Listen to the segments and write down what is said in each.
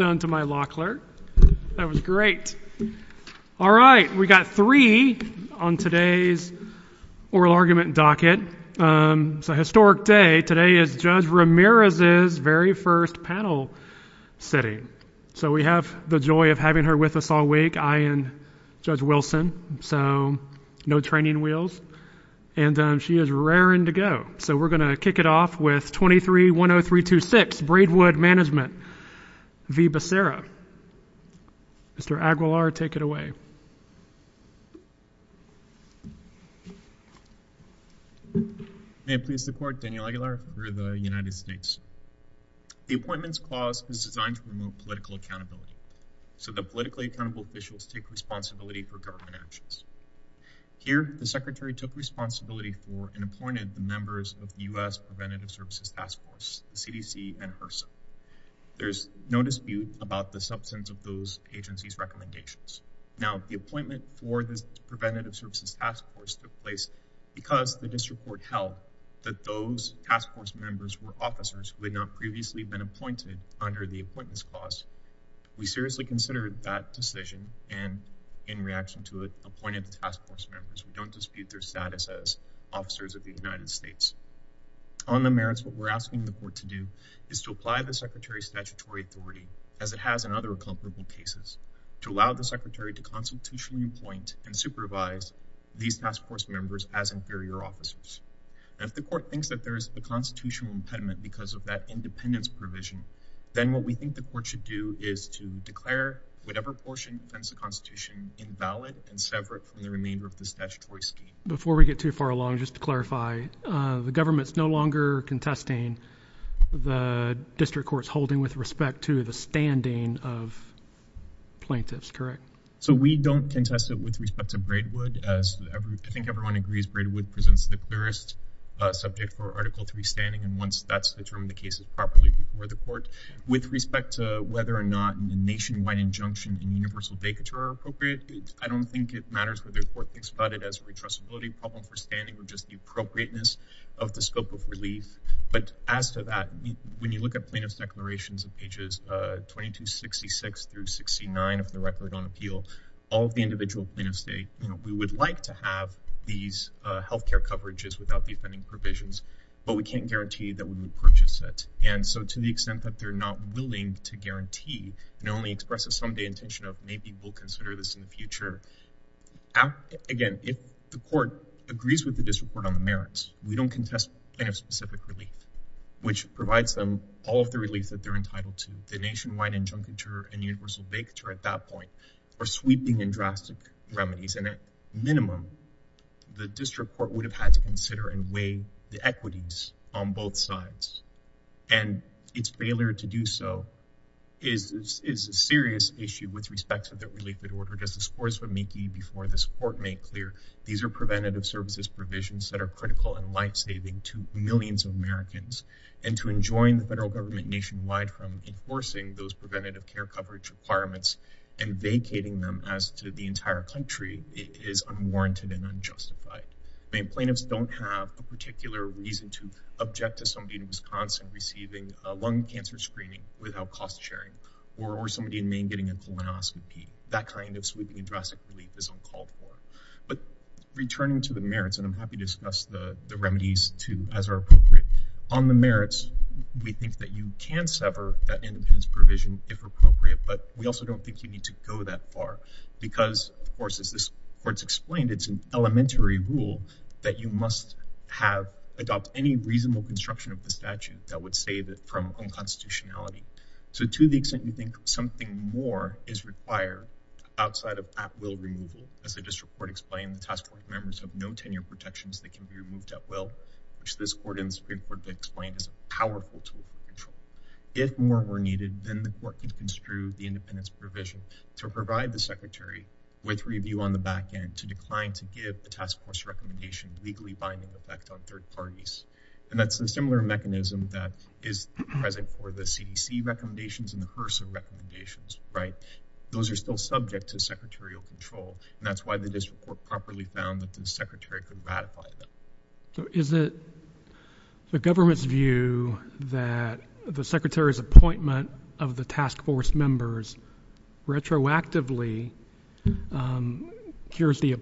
done to my law clerk that was great all right we got three on today's oral argument docket it's a historic day today is Judge Ramirez's very first panel sitting so we have the joy of having her with us all week I and Judge Wilson so no training wheels and she is raring to go so we're gonna kick it off with 2310326 Braidwood Management v. Becerra. Mr. Aguilar take it away. May it please the court, Daniel Aguilar for the United States. The Appointments Clause is designed to promote political accountability so that politically accountable officials take responsibility for government actions. Here the Secretary took responsibility for and appointed the members of the US Preventative Services Task Force CDC and HRSA. There's no dispute about the substance of those agencies recommendations. Now the appointment for this Preventative Services Task Force took place because the district court held that those task force members were officers who had not previously been appointed under the Appointments Clause. We seriously considered that decision and in reaction to it appointed the task force members. We don't dispute their status as officers of the United States. On the merits what we're asking the court to do is to apply the Secretary's statutory authority as it has in other comparable cases to allow the Secretary to constitutionally appoint and supervise these task force members as inferior officers. If the court thinks that there is a constitutional impediment because of that independence provision then what we think the court should do is to declare whatever portion defends the Constitution invalid and separate from the remainder of the Before we get too far along, just to clarify, the government's no longer contesting the district court's holding with respect to the standing of plaintiffs, correct? So we don't contest it with respect to Braidwood as I think everyone agrees Braidwood presents the clearest subject for Article 3 standing and once that's determined the case is properly before the court. With respect to whether or not a nationwide injunction and universal vacature are appropriate, I don't think it matters whether the court thinks about it as a retrustability problem for standing or just the appropriateness of the scope of relief but as to that when you look at plaintiff's declarations in pages 2266 through 69 of the Record on Appeal, all the individual plaintiffs say you know we would like to have these health care coverages without the offending provisions but we can't guarantee that when we purchase it and so to the extent that they're not willing to guarantee and only express a someday intention of maybe we'll consider this in the future. Again, if the court agrees with the district court on the merits, we don't contest plaintiff's specific relief which provides them all of the relief that they're entitled to. The nationwide injuncture and universal vacature at that point are sweeping and drastic remedies and at minimum the district court would have had to consider and weigh the equities on both sides and its failure to do so is a serious issue with respect to the relief that ordered as the scores were making before this court made clear these are preventative services provisions that are critical and life-saving to millions of Americans and to enjoin the federal government nationwide from enforcing those preventative care coverage requirements and vacating them as to the entire country is unwarranted and unjustified. Plaintiffs don't have a particular reason to object to somebody in Wisconsin receiving lung cancer screening without cost-sharing or somebody in Maine getting a colonoscopy. That kind of sweeping and drastic relief is uncalled for. But returning to the merits and I'm happy to discuss the remedies too as are appropriate. On the merits, we think that you can sever that independence provision if appropriate but we also don't think you need to go that far because of course as this court's explained it's an elementary rule that you must have adopt any reasonable construction of the statute that would save it from unconstitutionality. So to the extent you think something more is required outside of that will removal as the district court explained the task force members have no tenure protections that can be removed at will which this court and Supreme Court explained is a powerful tool. If more were needed then the court can construe the independence provision to provide the secretary with review on the back end to decline to give the task force recommendation legally binding effect on third parties and that's the similar mechanism that is present for the CDC recommendations and the HRSA recommendations right those are still subject to secretarial control and that's why the district court properly found that the secretary could ratify them. So is it the government's view that the secretary's appointment of the task force members retroactively cures the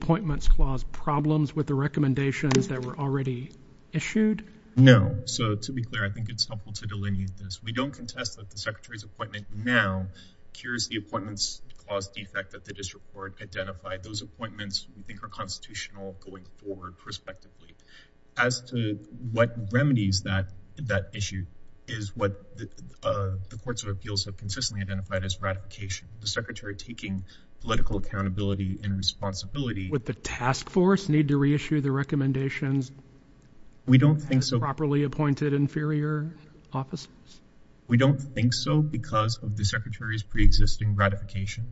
recommendations that were already issued? No. So to be clear I think it's helpful to delineate this. We don't contest that the secretary's appointment now cures the appointments caused the effect that the district court identified. Those appointments are constitutional going forward prospectively. As to what remedies that that issue is what the courts of appeals have consistently identified as ratification. The secretary taking political accountability and responsibility. Would the task force need to reissue the recommendations? We don't think so. Properly appointed inferior offices? We don't think so because of the secretary's pre-existing ratification.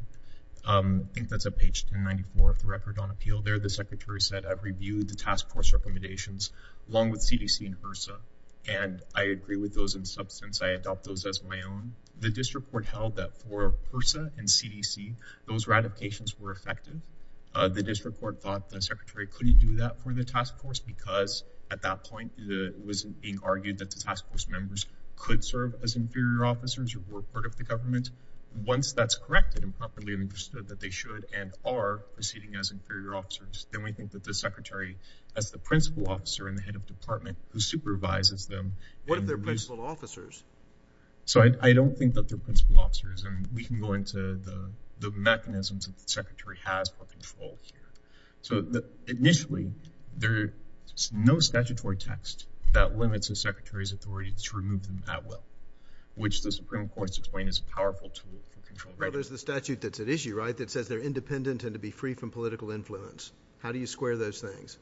I think that's a page 1094 of the record on appeal there the secretary said I've reviewed the task force recommendations along with CDC and HRSA and I agree with those in substance I adopt those as my own. The district court held that for HRSA and CDC those ratifications were effective. The district court thought the secretary couldn't do that for the task force because at that point it wasn't being argued that the task force members could serve as inferior officers or were part of the government. Once that's corrected and properly understood that they should and are proceeding as inferior officers then we think that the secretary as the principal officer in the head of department who supervises them. What are their principal officers? So I don't think that they're principal officers and we can go into the here. So initially there's no statutory text that limits a secretary's authority to remove them that well which the Supreme Court's explained is a powerful tool. Well there's the statute that's at issue right that says they're independent and to be free from political influence. How do you square those things?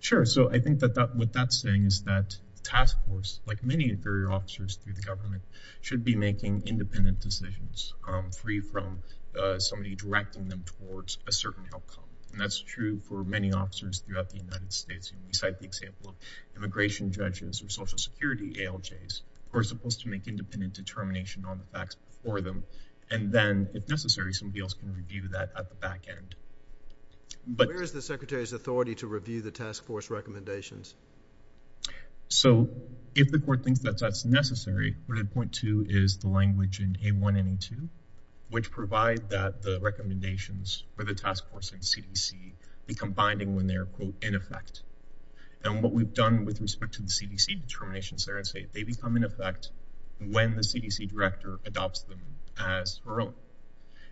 Sure so I think that that what that's saying is that task force like many inferior officers through the government should be making independent decisions free from somebody directing them towards a certain outcome and that's true for many officers throughout the United States and we cite the example of immigration judges or Social Security ALJs who are supposed to make independent determination on the facts before them and then if necessary somebody else can review that at the back end. But where is the secretary's authority to review the task force recommendations? So if the court thinks that's necessary, what I'd point to is the language in A1 and A2 which provide that the recommendations for the task force and CDC become binding when they are quote in effect. And what we've done with respect to the CDC determinations there and say they become in effect when the CDC director adopts them as her own.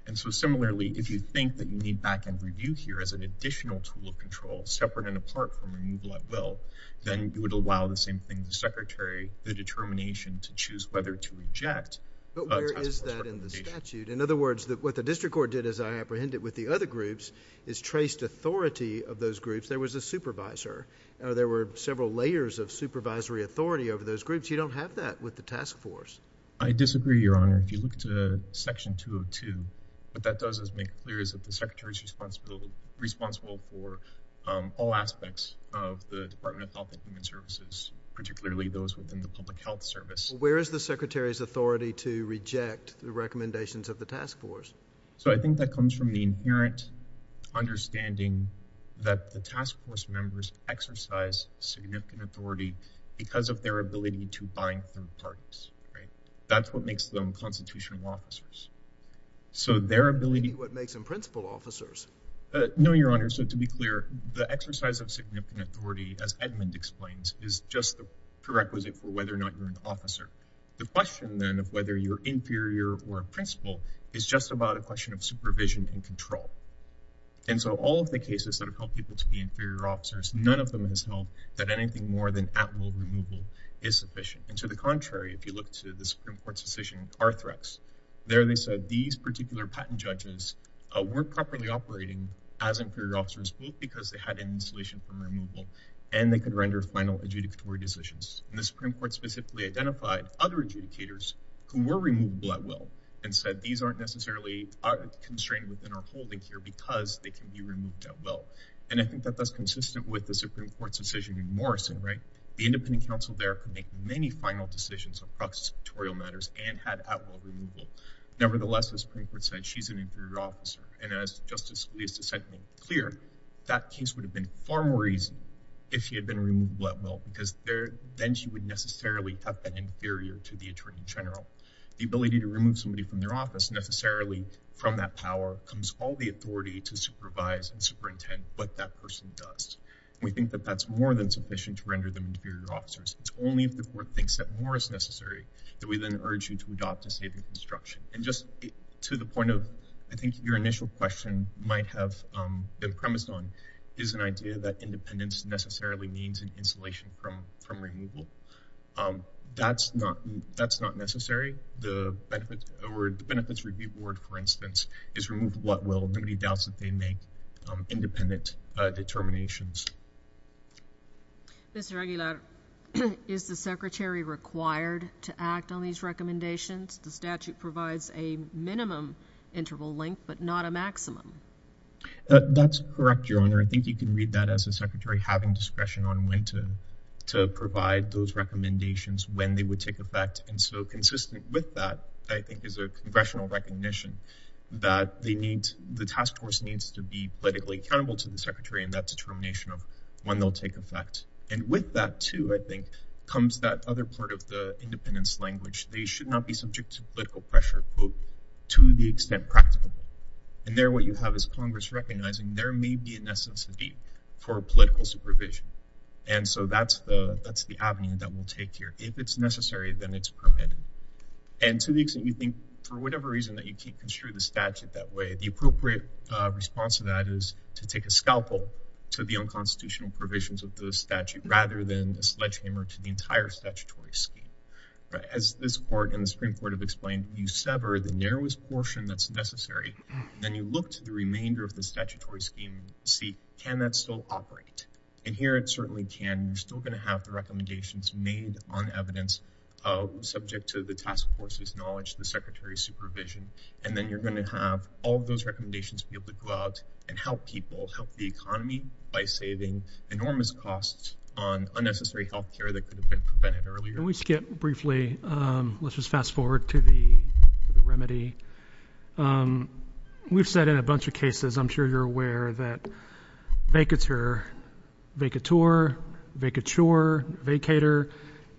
And so similarly if you think that you need back-end review here as an additional tool of control separate and apart from removal at will, then you would allow the same thing the secretary the determination to choose whether to reject. But where is that in the statute? In other words that what the district court did as I apprehended with the other groups is traced authority of those groups. There was a supervisor. There were several layers of supervisory authority over those groups. You don't have that with the task force. I disagree Your Honor. If you look to section 202, what that does is make clear is that the secretary's responsible responsible for all aspects of the Department of Health and Human Services, particularly those within the Public Health Service. Where is the secretary's authority to reject the recommendations of the task force? So I think that comes from the inherent understanding that the task force members exercise significant authority because of their ability to bind through parties. That's what makes them constitutional officers. So their ability What makes them principal officers? No, Your Honor. So to be clear, the exercise of significant authority, as Edmund explains, is just the prerequisite for whether or not you're an officer. The question then of whether you're inferior or a principal is just about a question of supervision and control. And so all of the cases that have helped people to be inferior officers, none of them has held that anything more than at will removal is sufficient. And to the contrary, if you look to the Supreme Court's decision in Carthrax, there they said these particular patent judges weren't properly operating as inferior officers both because they had an insolation from removal and they could render final adjudicatory decisions. And the Supreme Court specifically identified other adjudicators who were removable at will and said these aren't necessarily constrained within our holding here because they can be removed at will. And I think that that's consistent with the Supreme Court's decision in Morrison, right? The independent counsel there could make many final decisions across territorial matters and had at will removal. Nevertheless, the Supreme Court said she's an inferior officer. And as Justice Felicita sent me clear, that case would have been far more easy if he had been removed at will because then she would necessarily have been inferior to the attorney general. The ability to remove somebody from their office necessarily from that power comes all the authority to supervise and superintend what that person does. We think that that's more than sufficient to render them inferior officers. It's only if the court thinks that more is necessary that we then urge you to adopt a stated instruction. And just to the point of I think your initial question might have been premised on is an idea that independence necessarily means an insulation from from removal. Um, that's not that's not necessary. The benefits or benefits review board, for instance, is removed at will. Nobody doubts that they make independent determinations. Mr. Aguilar, is the secretary required to act on these recommendations? The statute provides a minimum interval length, but not a maximum. That's correct, Your Honor. I think you can read that as a secretary having discretion on when to to provide those recommendations when they would take effect. And so consistent with that, I think is a congressional recognition that they need. The task force needs to be politically accountable to the secretary and that determination of when they'll take effect. And with that, too, I think comes that other part of the independence language. They should not be subject to political pressure, quote, to the extent practical. And there what you have is Congress recognizing there may be a necessity for political supervision. And so that's the that's the avenue that will take here. If it's necessary, then it's permitted. And to the extent you think for whatever reason that you can't construe the statute that way, the appropriate response to that is to take a scalpel to the unconstitutional provisions of the statute rather than a sledgehammer to the entire statutory scheme. But as this court and the Supreme Court have explained, you sever the narrowest portion that's necessary. Then you look to the remainder of the statutory scheme. See, can that still operate? And here it certainly can. You're still going to have the recommendations made on evidence of subject to the task force's knowledge, the secretary's supervision. And then you're going to have all those recommendations be able to go out and help people help the economy by saving enormous costs on unnecessary health care that could have been prevented earlier. We skip briefly. Let's just fast forward to the remedy. Um, we've said in a bunch of cases, I'm sure you're aware that make it's here. Make a tour. Make a chore. Vacator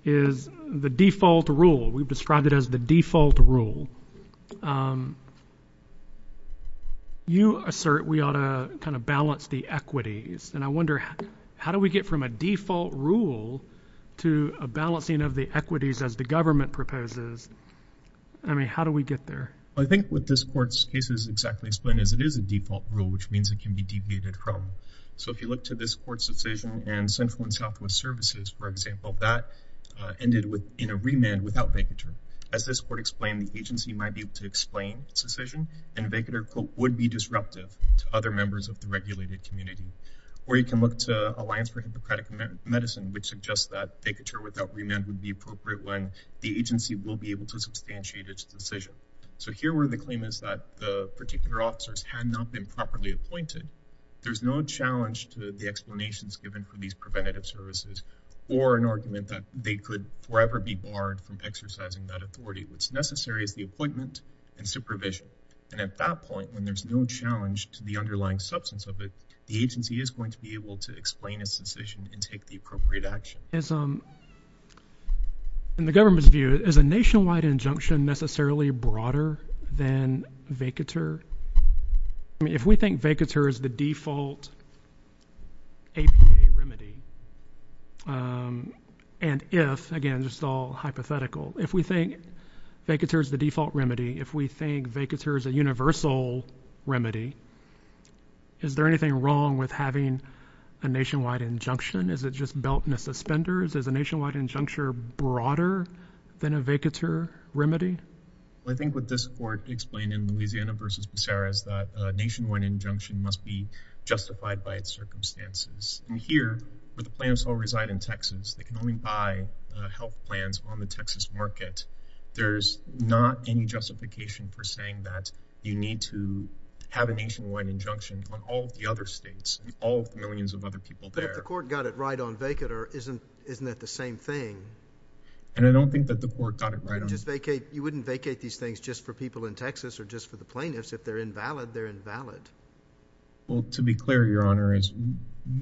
is the default rule. We've described it as the default rule. Um, you assert we ought to kind of balance the equities. And I wonder how do we get from a default rule to a balancing of the equities as the government proposes? I mean, how do we get there? I think with this court's cases exactly explained as it is a default rule, which means it can be deviated from. So if you look to this court's decision and Central and Southwest Services, for example, that ended with in a remand without vacature. As this court explained, the agency might be able to explain its decision and vacator quote would be disruptive to other members of the regulated community. Or you can look toe Alliance for Hippocratic Medicine, which suggests that they could sure without remand would be appropriate when the agency will be able to substantiate its decision. So here were the claim is that the particular officers had not been properly appointed. There's no challenge to the explanations given for these preventative services or an argument that they could forever be barred from exercising that authority. What's necessary is the appointment and supervision. And at that point, when there's no challenge to the underlying substance of it, the agency is going to be able to explain its decision and take the appropriate action is, um, and the government's view is a nationwide injunction necessarily broader than vacature. I mean, if we think vacatures the default a remedy, um, and if again, just all hypothetical, if we think vacatures the default remedy, if we think vacatures a universal remedy, is there anything wrong with having a nationwide injunction? Is it just belt and suspenders is a nationwide injuncture broader than a vacature remedy? I think what this court explained in Louisiana versus Sarah's that nationwide injunction must be justified by its circumstances. And here, but the plans all reside in Texas. They can only buy health plans on the Texas market. There's not any justification for saying that you need to have a nationwide injunction on all the other states. All millions of other people there. The court got it right on vacate or isn't Isn't that the same thing? And I don't think that the court got it right. Just vacate. You wouldn't vacate these things just for people in Texas or just for the plaintiffs. If they're invalid, they're invalid. Well, to be clear, your honor is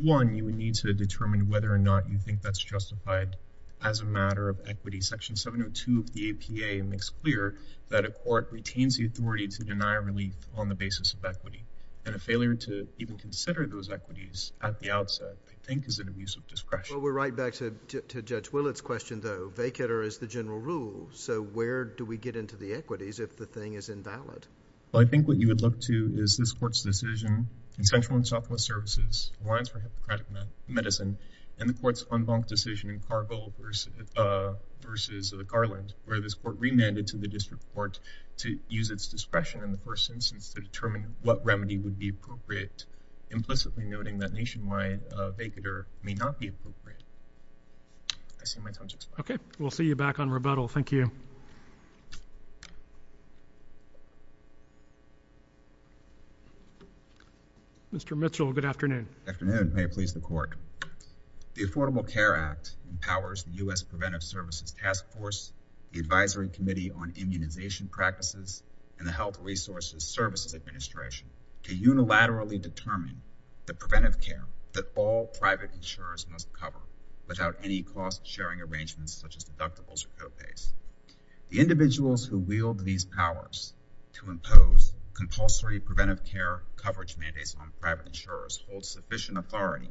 one. You need to determine whether or not you think that's justified as a matter of equity. Section 702 of the A. P. A. Makes clear that a court retains the authority to deny relief on the basis of equity and a failure to even consider those equities at the outset, I think, is an abuse of discretion. Well, we're right back to Judge Willett's question, though. Vacate or is the general rule. So where do we get into the equities if the thing is invalid? Well, I think what you would look to is this court's decision in Central and Southwest Services Alliance for Hippocratic Medicine and the court's unbunked decision in Cargill versus versus Garland, where this court remanded to the district court to use its discretion in the first instance to determine what remedy would be appropriate. Implicitly noting that I see my touch. Okay, we'll see you back on rebuttal. Thank you. Mr Mitchell. Good afternoon. May it please the court. The Affordable Care Act empowers the U. S. Preventive Services Task Force, the Advisory Committee on Immunization Practices and the Health Resources Services Administration to unilaterally determine the preventive care that all private insurers must cover without any cost sharing arrangements, such as deductibles or copays. The individuals who wield these powers to impose compulsory preventive care coverage mandates on private insurers hold sufficient authority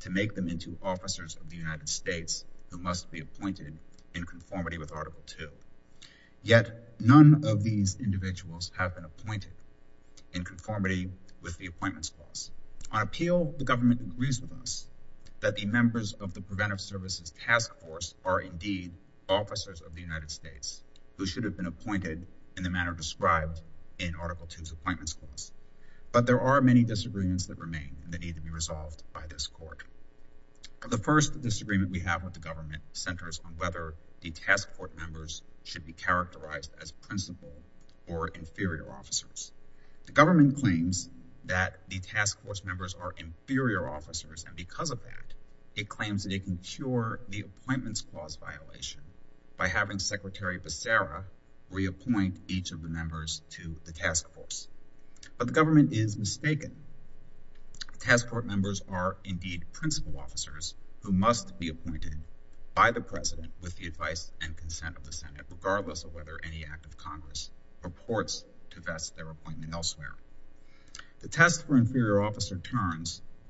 to make them into officers of the United States who must be appointed in conformity with Article two. Yet none of these individuals have been appointed in conformity with the appointments clause. On appeal, the government agrees with us that the members of the Preventive Services Task Force are indeed officers of the United States who should have been appointed in the manner described in Article twos appointments for us. But there are many disagreements that remain. They need to be resolved by this court. The first disagreement we have with the government centers on whether the task court members should be characterized as principal or inferior officers. The government claims that the task force members are inferior officers, and because of that, it claims that it can cure the appointments clause violation by having Secretary Becerra reappoint each of the members to the task force. But the government is mistaken. Task force members are indeed principal officers who must be appointed by the president with the advice and consent of the Senate, regardless of whether any act of Congress purports to best their appointment elsewhere. The test for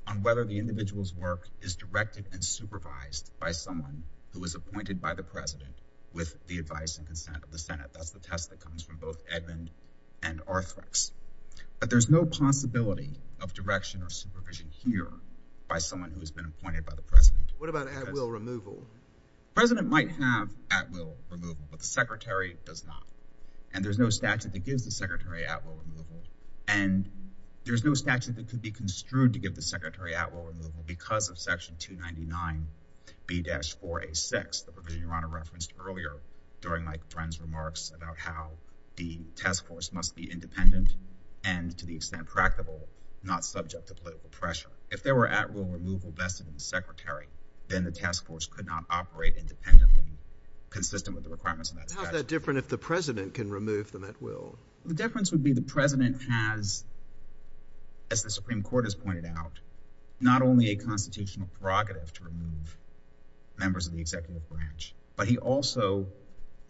on whether the individual's work is directed and supervised by someone who was appointed by the president with the advice and consent of the Senate. That's the test that comes from both Edmond and Arthrex. But there's no possibility of direction or supervision here by someone who has been appointed by the president. What about at will removal? President might have at will removal, but the secretary does not, and there's no statute that gives the secretary at will removal, and there's no statute that could be construed to give the secretary at will removal because of Section 299B-4A6, the provision your Honor referenced earlier during Mike Friend's remarks about how the task force must be independent and, to the extent practical, not subject to political pressure. If there were at will removal vested in the secretary, then the task force could not operate independently, consistent with the requirements of that statute. How is that different if the president can remove them at will? The difference would be the president has, as the President pointed out, not only a constitutional prerogative to remove members of the executive branch, but he also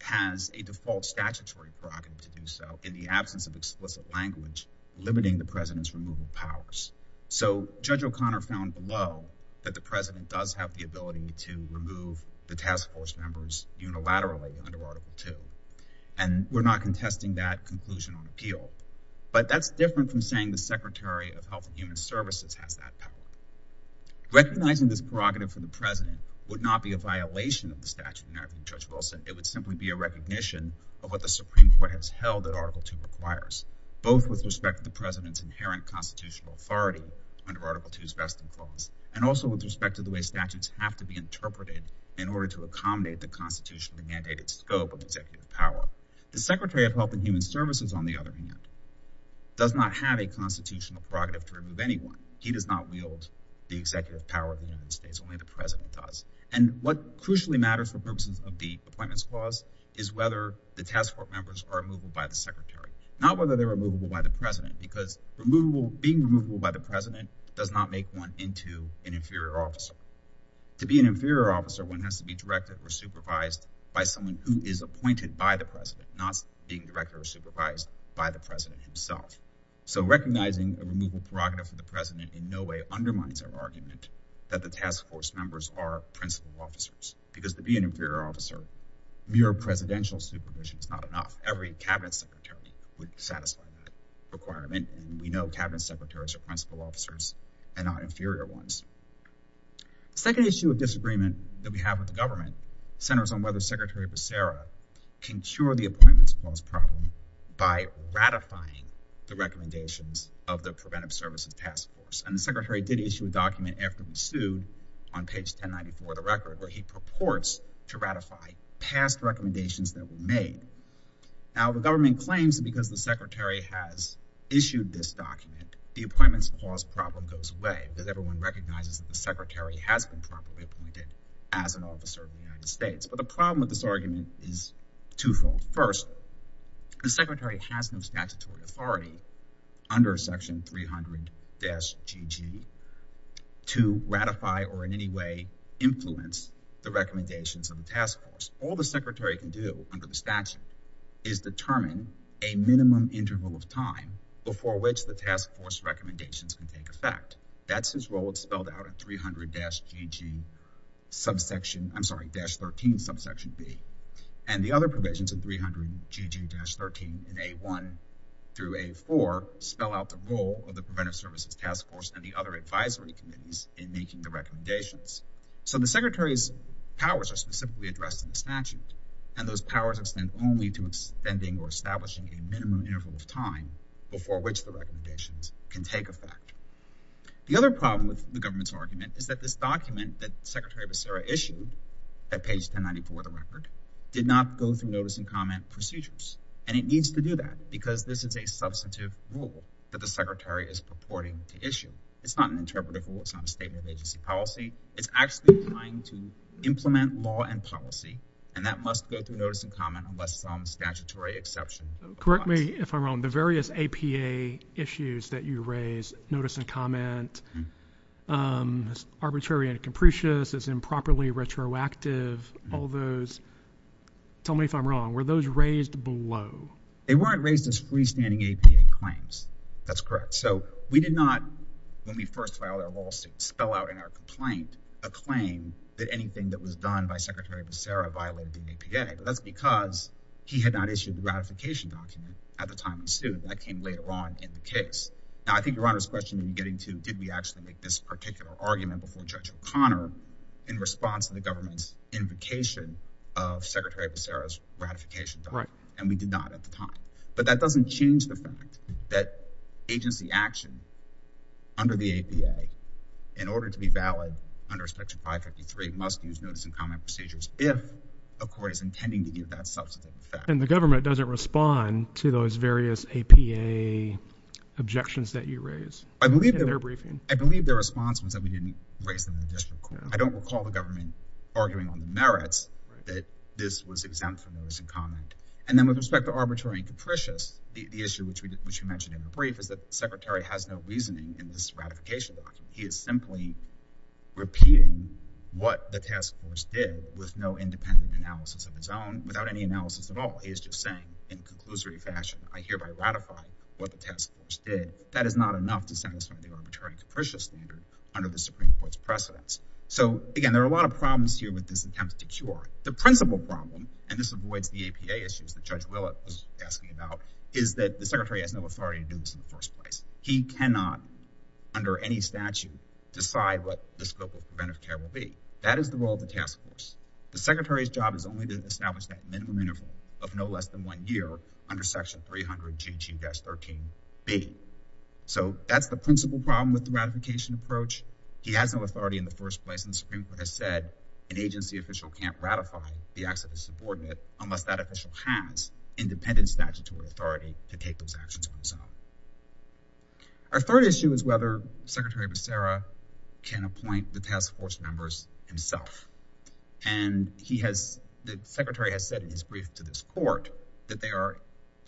has a default statutory prerogative to do so in the absence of explicit language limiting the president's removal powers. So Judge O'Connor found below that the president does have the ability to remove the task force members unilaterally under Article 2, and we're not contesting that conclusion on appeal. But that's different from saying the Secretary of Health and Human Services has that power. Recognizing this prerogative for the president would not be a violation of the statute in American Judge Wilson. It would simply be a recognition of what the Supreme Court has held that Article 2 requires, both with respect to the president's inherent constitutional authority under Article 2's vesting clause, and also with respect to the way statutes have to be interpreted in order to accommodate the constitutionally mandated scope of executive power. The Secretary of Health and Human Services, on the other hand, does not have a constitutional prerogative to remove anyone. He does not wield the executive power of the United States, only the president does. And what crucially matters for purposes of the Appointments Clause is whether the task force members are removable by the secretary, not whether they're removable by the president, because being removable by the president does not make one into an inferior officer. To be an inferior officer, one has to be directed or supervised by someone who is appointed by the president, not being directed or supervised by the president himself. So recognizing a removal prerogative for the president in no way undermines our argument that the task force members are principal officers, because to be an inferior officer, mere presidential supervision is not enough. Every cabinet secretary would satisfy that requirement, and we know cabinet secretaries are principal officers and not inferior ones. The second issue of disagreement that we have with the government centers on whether Secretary Becerra can cure the recommendations of the Preventive Services Task Force, and the secretary did issue a document after the sue on page 1094 of the record where he purports to ratify past recommendations that were made. Now the government claims that because the secretary has issued this document, the Appointments Clause problem goes away, because everyone recognizes that the secretary has been properly appointed as an officer of the United States. But the problem with this under section 300-GG, to ratify or in any way influence the recommendations of the task force, all the secretary can do under the statute is determine a minimum interval of time before which the task force recommendations can take effect. That's his role, it's spelled out at 300-GG subsection, I'm sorry, 300-GG-13 subsection B, and the other provisions of 300-GG-13 in A1 through A4 spell out the role of the Preventive Services Task Force and the other advisory committees in making the recommendations. So the secretary's powers are specifically addressed in the statute, and those powers extend only to extending or establishing a minimum interval of time before which the recommendations can take effect. The other problem with the government's document that Secretary Becerra issued at page 1094 of the record did not go through notice and comment procedures, and it needs to do that because this is a substantive rule that the secretary is purporting to issue. It's not an interpretive rule, it's not a statement of agency policy, it's actually trying to implement law and policy, and that must go through notice and comment unless it's on the statutory exception. Correct me if I'm wrong, the various APA issues that you raised, notice and comment, arbitrary and capricious, as improperly retroactive, all those, tell me if I'm wrong, were those raised below? They weren't raised as freestanding APA claims, that's correct. So we did not, when we first filed our lawsuit, spell out in our complaint a claim that anything that was done by Secretary Becerra violated the APA. That's because he had not issued the Now I think Your Honor's question you're getting to, did we actually make this particular argument before Judge O'Connor in response to the government's invocation of Secretary Becerra's ratification document, and we did not at the time. But that doesn't change the fact that agency action under the APA, in order to be valid under section 553, must use notice and comment procedures if a court is intending to give that substantive effect. And the government doesn't respond to those various APA objections that you raise in their briefing. I believe their response was that we didn't raise them in the district court. I don't recall the government arguing on the merits that this was exempt from notice and comment. And then with respect to arbitrary and capricious, the issue which we mentioned in the brief is that the Secretary has no reasoning in this ratification document. He is simply repeating what the task force did with no independent analysis of his own, without any analysis of the evidence at all. He is just saying in conclusory fashion, I hereby ratify what the task force did. That is not enough to satisfy the arbitrary and capricious standard under the Supreme Court's precedence. So again, there are a lot of problems here with this attempt to cure. The principal problem, and this avoids the APA issues that Judge Willett was asking about, is that the Secretary has no authority to do this in the first place. He cannot, under any statute, decide what this bill of preventive care will be. That is the role of the task force. The Secretary's job is only to establish that minimum of no less than one year under Section 300 GG-13B. So that's the principal problem with the ratification approach. He has no authority in the first place, and the Supreme Court has said an agency official can't ratify the acts of a subordinate unless that official has independent statutory authority to take those actions for himself. Our third issue is whether Secretary Becerra can appoint the task force members himself. And the Secretary has said in his brief to this court that they are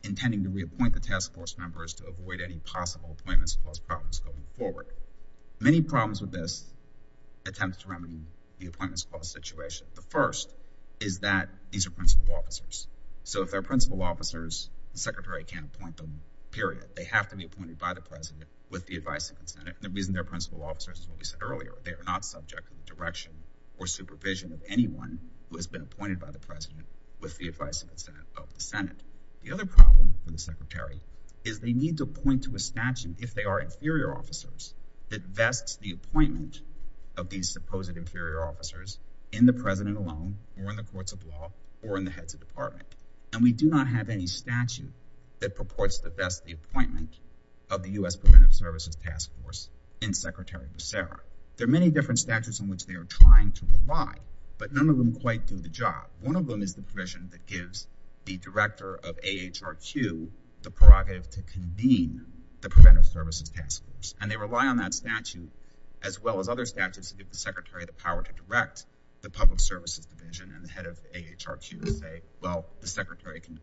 intending to reappoint the task force members to avoid any possible appointments clause problems going forward. Many problems with this attempt to remedy the appointments clause situation. The first is that these are principal officers. So if they're principal officers, the Secretary can't appoint them, period. They have to be appointed by the President with the advice of the Senate. And the reason they're principal officers is what we said earlier. They are not subject to the direction or supervision of anyone who has been appointed by the President with the advice of the Senate. The other problem with the Secretary is they need to appoint to a statute, if they are inferior officers, that vests the appointment of these supposed inferior officers in the President alone or in the courts of law or in the heads of department. And we do not have any statute that purports to vest the appointment of the U.S. Preventive Services Task Force in Secretary Becerra. There are many different statutes in which they are trying to rely, but none of them quite do the job. One of them is the provision that gives the director of AHRQ the prerogative to convene the Preventive Services Task Force. And they rely on that statute as well as other statutes to give the Secretary the power to direct the public services division and the head of AHRQ to say, well, the Secretary can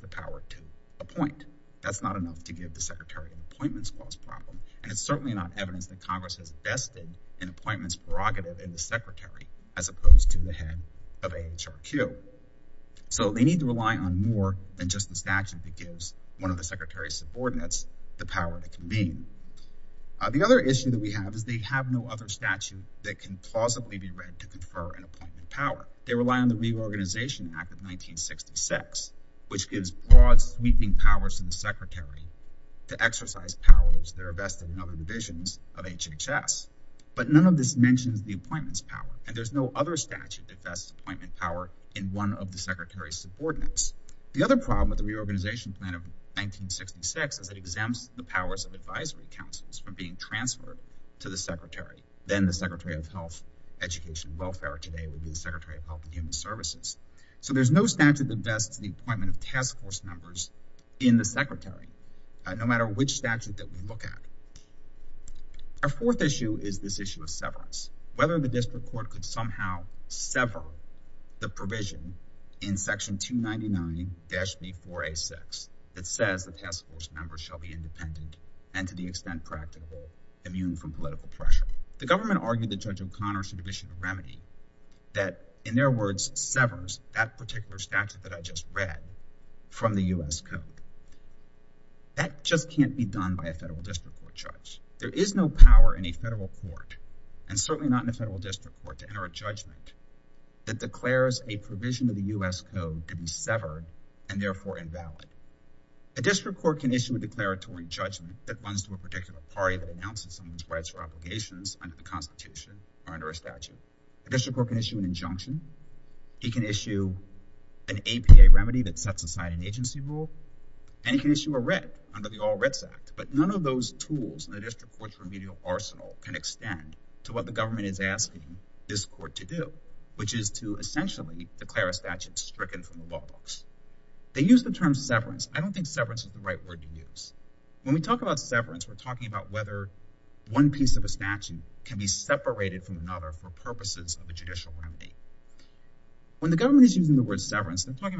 the power to appoint. That's not enough to give the Secretary an appointments clause problem. And it's certainly not evidence that Congress has vested an appointments prerogative in the Secretary as opposed to the head of AHRQ. So they need to rely on more than just the statute that gives one of the Secretary's subordinates the power to convene. The other issue that we have is they have no other statute that can plausibly be read to confer an appointment power. They rely on the Reorganization Act of 1966, which gives broad sweeping powers to the Secretary to exercise powers that are vested in other divisions of HHS. But none of this mentions the appointments power, and there's no other statute that vests appointment power in one of the Secretary's subordinates. The other problem with the Reorganization Plan of 1966 is it exempts the powers of advisory councils from being transferred to the Secretary. Then the Secretary of Health, Education, and Welfare today will be the Secretary of Health and Human Services. So there's no statute that vests the appointment of task force members in the Secretary, no matter which statute that we look at. Our fourth issue is this issue of severance. Whether the district court could somehow sever the provision in section 299-B4A6 that says the task force members shall be independent and to the extent practicable, immune from political pressure. The government argued that Judge O'Connor should issue a remedy that, in their words, severs that particular statute that I just read from the U.S. Code. That just can't be done by a federal district court judge. There is no power in a federal court, and certainly not in a federal district court, to enter a judgment that declares a provision of the U.S. Code to be severed and therefore invalid. A district court can issue a declaratory judgment that runs to a particular party that the Constitution or under a statute. A district court can issue an injunction. It can issue an APA remedy that sets aside an agency rule. And it can issue a writ under the All Writs Act. But none of those tools in the district court's remedial arsenal can extend to what the government is asking this court to do, which is to essentially declare a statute stricken from the law books. They use the term severance. I don't think severance is the right word to use. When we use the word severance, they're talking about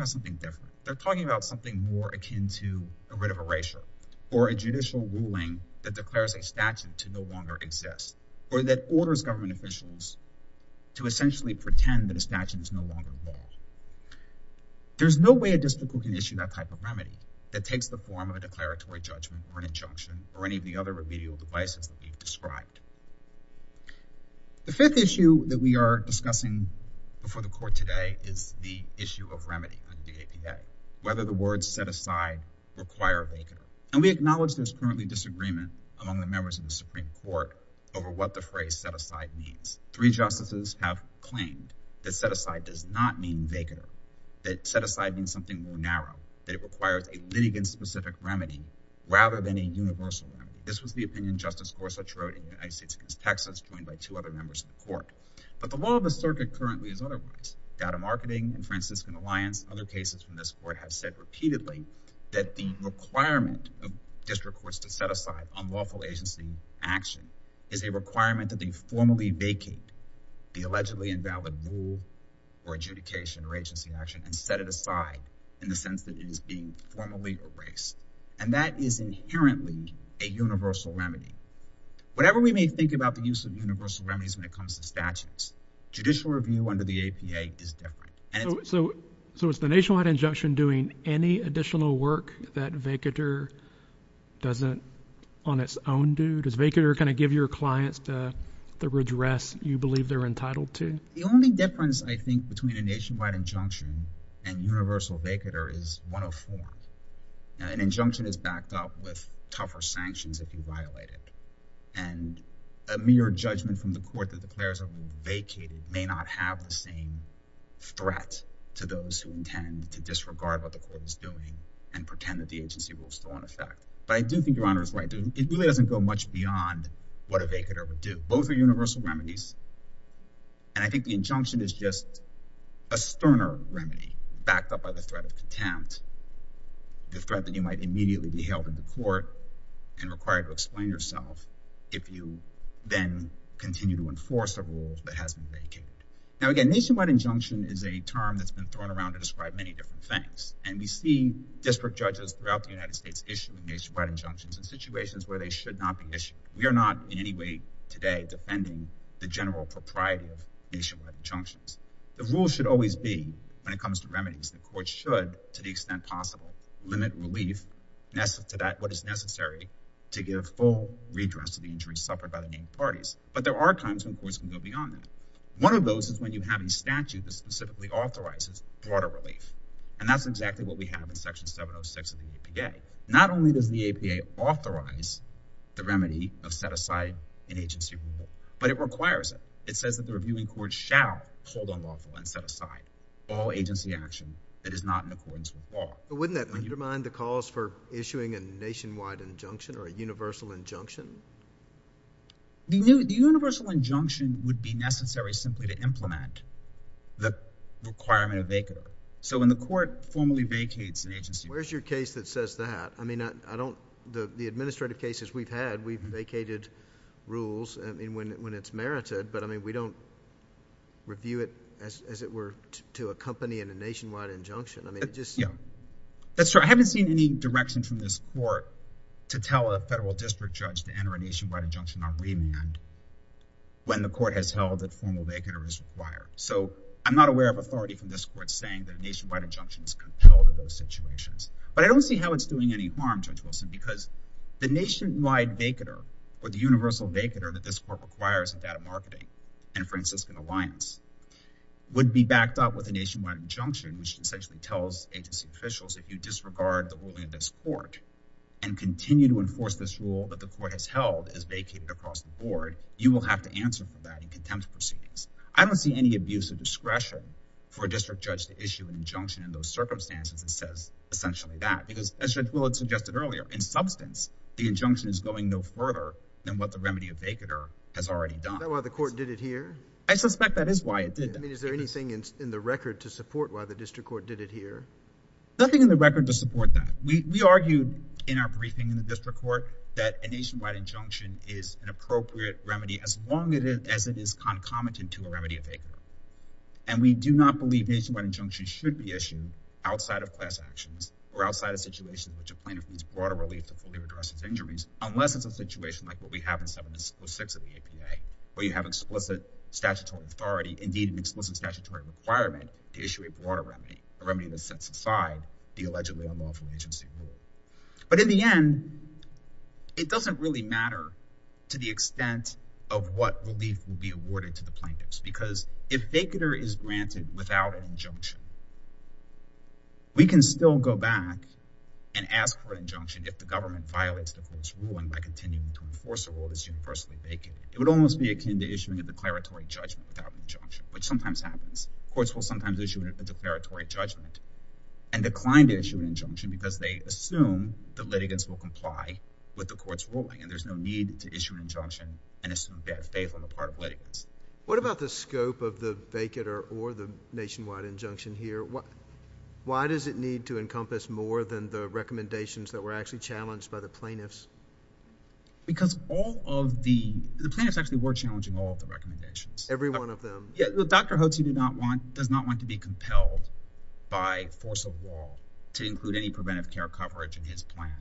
something different. They're talking about something more akin to a writ of erasure, or a judicial ruling that declares a statute to no longer exist, or that orders government officials to essentially pretend that a statute is no longer law. There's no way a district court can issue that type of remedy that takes the form of a statute. The fifth issue that we are discussing before the court today is the issue of remedy under the APA, whether the words set aside require a vacater. And we acknowledge there's currently disagreement among the members of the Supreme Court over what the phrase set aside means. Three justices have claimed that set aside does not mean vacater, that set aside means something more narrow, that it requires a litigant specific remedy rather than a universal one. This was the opinion Justice Gorsuch wrote in United States v. Texas, joined by two other members of the court. But the law of the circuit currently is otherwise. Data Marketing and Franciscan Alliance, other cases from this court, have said repeatedly that the requirement of district courts to set aside unlawful agency action is a requirement that they formally vacate the allegedly invalid rule, or adjudication, or agency action, and set it aside in the sense that it is being formally erased. And that is inherently a universal remedy. Whatever we may think about the use of universal remedies when it comes to statutes, judicial review under the APA is different. So, is the Nationwide Injunction doing any additional work that vacater doesn't on its own do? Does vacater kind of give your clients the redress you believe they're entitled to? The only difference, I think, between a Nationwide Injunction and universal vacater is one of four. An injunction is backed up with tougher sanctions if you violate it. And a mere judgment from the court that declares a rule vacated may not have the same threat to those who intend to disregard what the court is doing and pretend that the agency rule is still in effect. But I do think Your Honor is right. It really doesn't go much beyond what a vacater would do. Both are universal remedies. And I think the injunction is just a sterner remedy backed up by the threat of contempt. The threat that you might immediately be held in the court and required to explain yourself if you then continue to enforce a rule that has been vacated. Now again, Nationwide Injunction is a term that's been thrown around to describe many different things. And we see district judges throughout the United States issuing Nationwide Injunctions in situations where they should not be issued. We are not in any way today defending the general propriety of Nationwide Injunctions. The rule should always be, when it comes to remedies, the court should, to the extent possible, limit relief to what is necessary to give full redress to the injuries suffered by the named parties. But there are times when courts can go beyond that. One of those is when you have a statute that specifically authorizes broader relief. And that's exactly what we have in Section 706 of the APA. Not only does the APA authorize the remedy of set aside an agency rule, but it requires it. It says that the reviewing court shall hold unlawful and set aside all agency action that is not in accordance with law. But wouldn't that undermine the cause for issuing a Nationwide Injunction or a Universal Injunction? The Universal Injunction would be necessary simply to implement the requirement of vacancy. So when the court formally vacates an agency rule. Where's your case that says that? I mean, the administrative cases we've had, we've vacated rules when it's merited. But we don't review it as it were to accompany in a Nationwide Injunction. That's true. I haven't seen any direction from this court to tell a federal district judge to enter a Nationwide Injunction on remand when the court has held that formal vacancy is required. So I'm not aware of authority from this court saying that a Nationwide Injunction is compelled in those situations. But I don't see how it's doing any harm, Judge Wilson, because the Nationwide Vacaner or the Universal Vacaner that this court requires in data marketing and Franciscan Alliance would be backed up with a Nationwide Injunction, which essentially tells agency officials if you disregard the ruling of this court and continue to enforce this rule that the court has held as vacated across the board, you will have to answer for that in contempt proceedings. I don't see any abuse of discretion for a district judge to issue an injunction in those circumstances that says essentially that. Because as Judge Willard suggested earlier, in substance, the injunction is going no further than what the Remedy of Vacaner has already done. Is that why the court did it here? I suspect that is why it did that. I mean, is there anything in the record to support why the district court did it here? Nothing in the record to support that. We argued in our briefing in the district court that a Nationwide Injunction is an appropriate remedy as long as it is concomitant to a Remedy of Vacaner. And we do not believe Nationwide Injunction should be issued outside of class actions or outside of situations in which a plaintiff needs broader relief to fully address his injuries, unless it's a situation like what we have in 706 of the APA, where you have explicit statutory authority, indeed an explicit statutory requirement to issue a broader remedy, a remedy that sets aside the allegedly unlawful agency rule. But in the end, it doesn't really matter to the extent of what relief will be awarded to the plaintiff. We can still go back and ask for an injunction if the government violates the court's ruling by continuing to enforce a rule that is universally vacated. It would almost be akin to issuing a declaratory judgment without an injunction, which sometimes happens. Courts will sometimes issue a declaratory judgment and decline to issue an injunction because they assume that litigants will comply with the court's ruling, and there's no need to issue an injunction and assume fair faith on the part of litigants. What about the scope of the vacater or the vacation-wide injunction here? Why does it need to encompass more than the recommendations that were actually challenged by the plaintiffs? Because all of the plaintiffs actually were challenging all of the recommendations. Every one of them? Yeah, Dr. Hotzi does not want to be compelled by force of law to include any preventive care coverage in his plan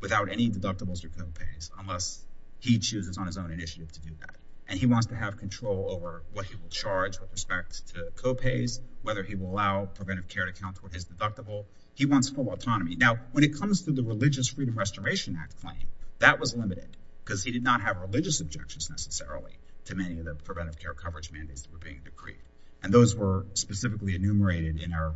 without any deductibles or co-pays, unless he chooses on his own initiative to do that. And he wants to have control over what he will charge with respect to co-pays, whether he will allow preventive care to count toward his deductible. He wants full autonomy. Now, when it comes to the Religious Freedom Restoration Act claim, that was limited because he did not have religious objections necessarily to many of the preventive care coverage mandates that were being agreed. And those were specifically enumerated in our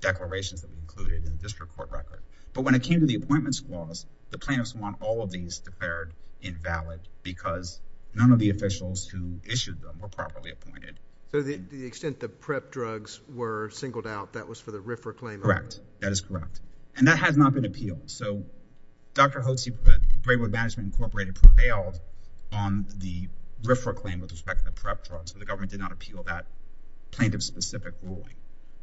declarations that we included in the district court record. But when it came to the appointments clause, the plaintiffs want all of these declared invalid because none of the officials who issued them were properly appointed. So, the extent the PrEP drugs were singled out, that was for the RFRA claim? Correct. That is correct. And that has not been appealed. So, Dr. Hotzi, Braywood Management Incorporated prevailed on the RFRA claim with respect to the PrEP drugs, but the government did not appeal that plaintiff-specific ruling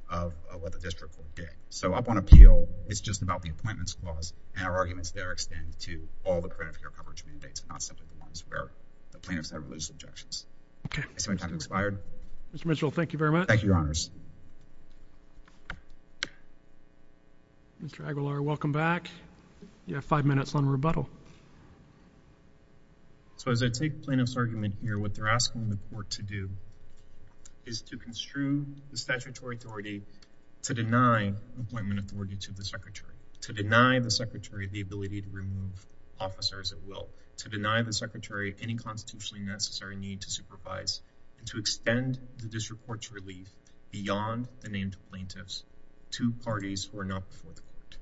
of what the district court did. So, up on appeal, it's just about the appointments clause, and our arguments there extend to all the preventive care coverage mandates, not simply the ones where the plaintiffs have religious objections. Mr. Mitchell, thank you very much. Thank you, Your Honors. Mr. Aguilar, welcome back. You have five minutes on rebuttal. So, as I take the plaintiff's argument here, what they're asking the court to do is to construe the statutory authority to deny appointment authority to the Secretary, to deny the Secretary the ability to remove officers at will, to deny the Secretary any constitutionally necessary need to supervise, and to extend the district court's relief beyond the named plaintiffs to parties who are not before the court.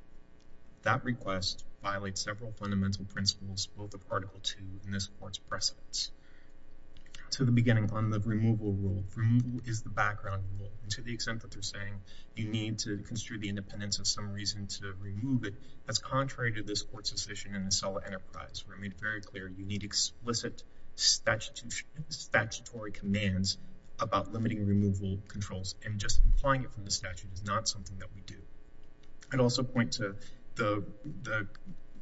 That request violates several fundamental principles, both of Article II and this court's precedents. To the beginning on the removal rule, removal is the background rule, and to the extent that they're saying you need to construe the independence of some reason to remove it, that's contrary to this court's decision in the SELA enterprise, where it made very clear you need explicit statutory commands about limiting removal controls, and just implying it from the statute is not something that we do. I'd also point to the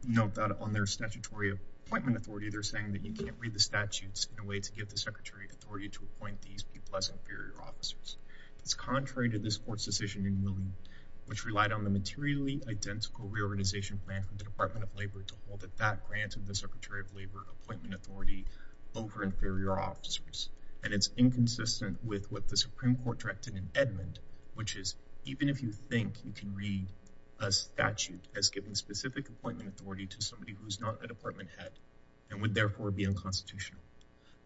note that on their statutory appointment authority, they're saying that you can't read the statutes in a way to get the Secretary authority to appoint these people as inferior officers. It's contrary to this court's decision in New England, which relied on the materially identical reorganization plan from the Department of Labor to hold that grant of the Secretary of Labor appointment authority over inferior officers, and it's inconsistent with what the Supreme Court directed in Edmund, which is even if you think you can read a statute as giving specific appointment authority to somebody who's not a department head and would therefore be unconstitutional.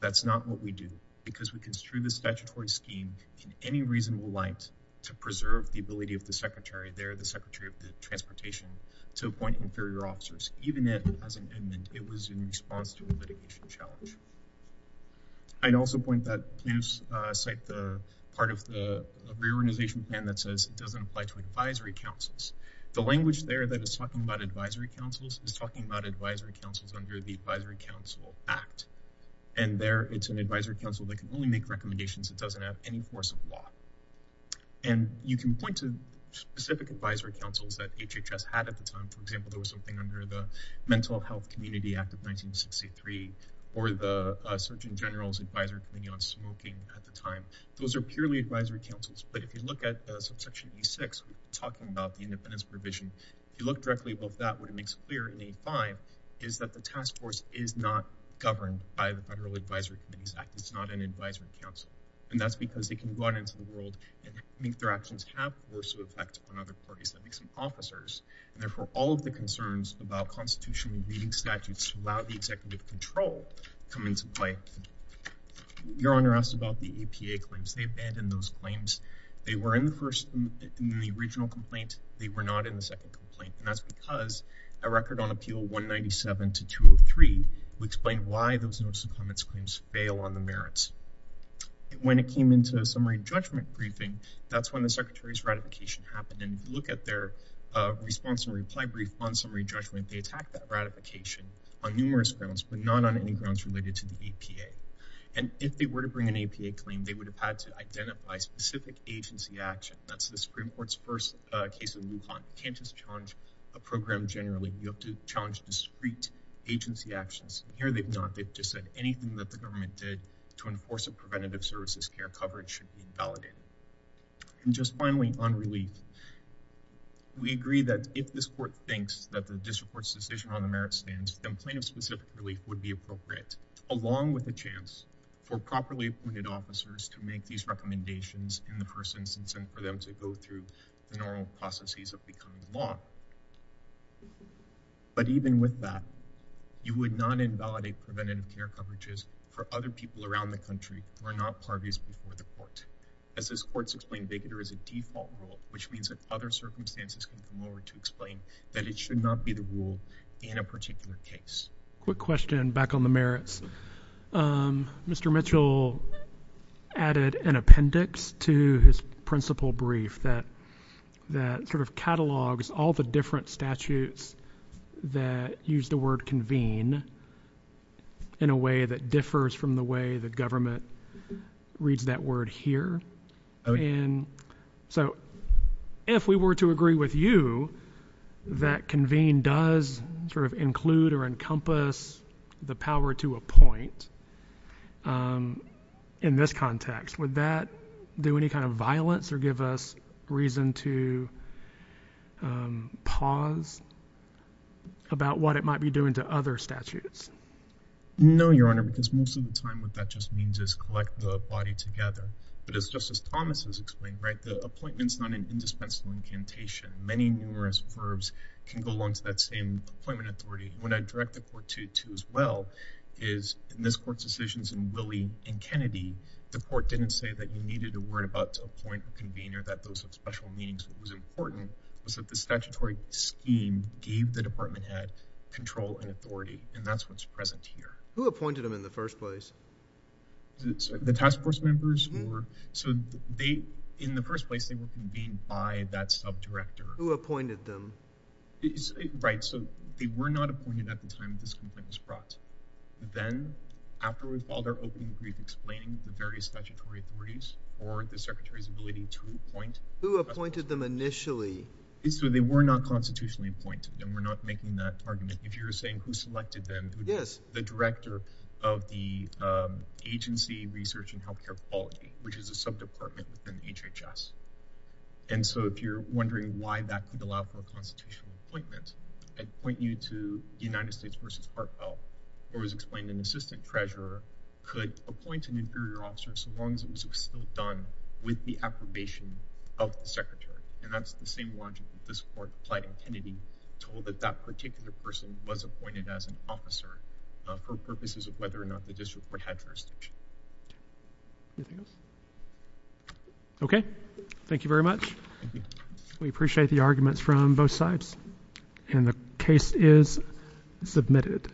That's not what we do, because we construe the statutory scheme in any reasonable light to preserve the ability of the Secretary there, the Secretary of Transportation, to appoint inferior officers, even if, as in Edmund, it was in response to a litigation challenge. I'd also point that you cite the part of the reorganization plan that says it doesn't apply to advisory councils. The language there that is talking about advisory councils is talking about the Advisory Council Act, and there it's an advisory council that can only make recommendations. It doesn't have any force of law, and you can point to specific advisory councils that HHS had at the time. For example, there was something under the Mental Health Community Act of 1963, or the Surgeon General's Advisory Committee on Smoking at the time. Those are purely advisory councils, but if you look at subsection E6, talking about the independence provision, if you look directly above that, what it makes clear in E5 is that the task force is not governed by the Federal Advisory Committee Act. It's not an advisory council, and that's because they can go out into the world and make their actions have force of effect on other parties, that makes them officers, and therefore all of the concerns about constitutional reading statutes allow the executive control to come into play. Your Honor asked about the EPA claims. They abandoned those complaints. They were not in the second complaint, and that's because a record on Appeal 197 to 203 would explain why those notice of comments claims fail on the merits. When it came into a summary judgment briefing, that's when the Secretary's ratification happened, and look at their response and reply brief on summary judgment. They attacked that ratification on numerous grounds, but not on any grounds related to the EPA, and if they were to bring an EPA claim, they would have had to identify specific agency action. That's the Supreme Court's first case in Lujan. You can't just challenge a program generally. You have to challenge discrete agency actions, and here they've not. They've just said anything that the government did to enforce a preventative services care coverage should be validated. And just finally, on relief, we agree that if this court thinks that the district court's decision on the merits stands, then plaintiff-specific relief would be appropriate, along with a chance for properly appointed officers to make these recommendations in the normal processes of becoming law. But even with that, you would not invalidate preventative care coverages for other people around the country who are not parties before the court. As this court's explained, VIGADR is a default rule, which means that other circumstances can come over to explain that it should not be the rule in a particular case. Quick question back on the merits. Mr. Mitchell added an appendix to his principle brief that sort of catalogs all the different statutes that use the word convene in a way that differs from the way the government reads that word here. And so, if we were to agree with you that convene does sort of include or encompass the power to appoint in this context, would that do any kind of reason to pause about what it might be doing to other statutes? No, Your Honor, because most of the time what that just means is collect the body together. But as Justice Thomas has explained, right, the appointment's not an indispensable incantation. Many numerous verbs can go along to that same appointment authority. What I direct the court to as well is, in this court's decisions in Willie and Kennedy, the court didn't say that needed a word about appoint a convener, that those have special meanings. What was important was that the statutory scheme gave the department head control and authority, and that's what's present here. Who appointed them in the first place? The task force members? So, in the first place, they were convened by that subdirector. Who appointed them? Right. So, they were not appointed at the time this complaint was brought. Then afterwards, while they're opening the brief, explaining the various statutory authorities or the secretary's ability to appoint— Who appointed them initially? So, they were not constitutionally appointed, and we're not making that argument. If you're saying who selected them— Yes. —the director of the agency research and healthcare quality, which is a subdepartment within HHS. And so, if you're wondering why that could allow for a constitutional appointment, I'd point you to the United States versus Parkville, where it was explained an assistant treasurer could appoint an inferior officer so long as it was still done with the affirmation of the secretary. And that's the same logic that this court applied in Kennedy, told that that particular person was appointed as an officer for purposes of whether or not the district would have jurisdiction. Anything else? Okay. Thank you very much. Thank you. We appreciate the arguments from both sides. And the case is submitted.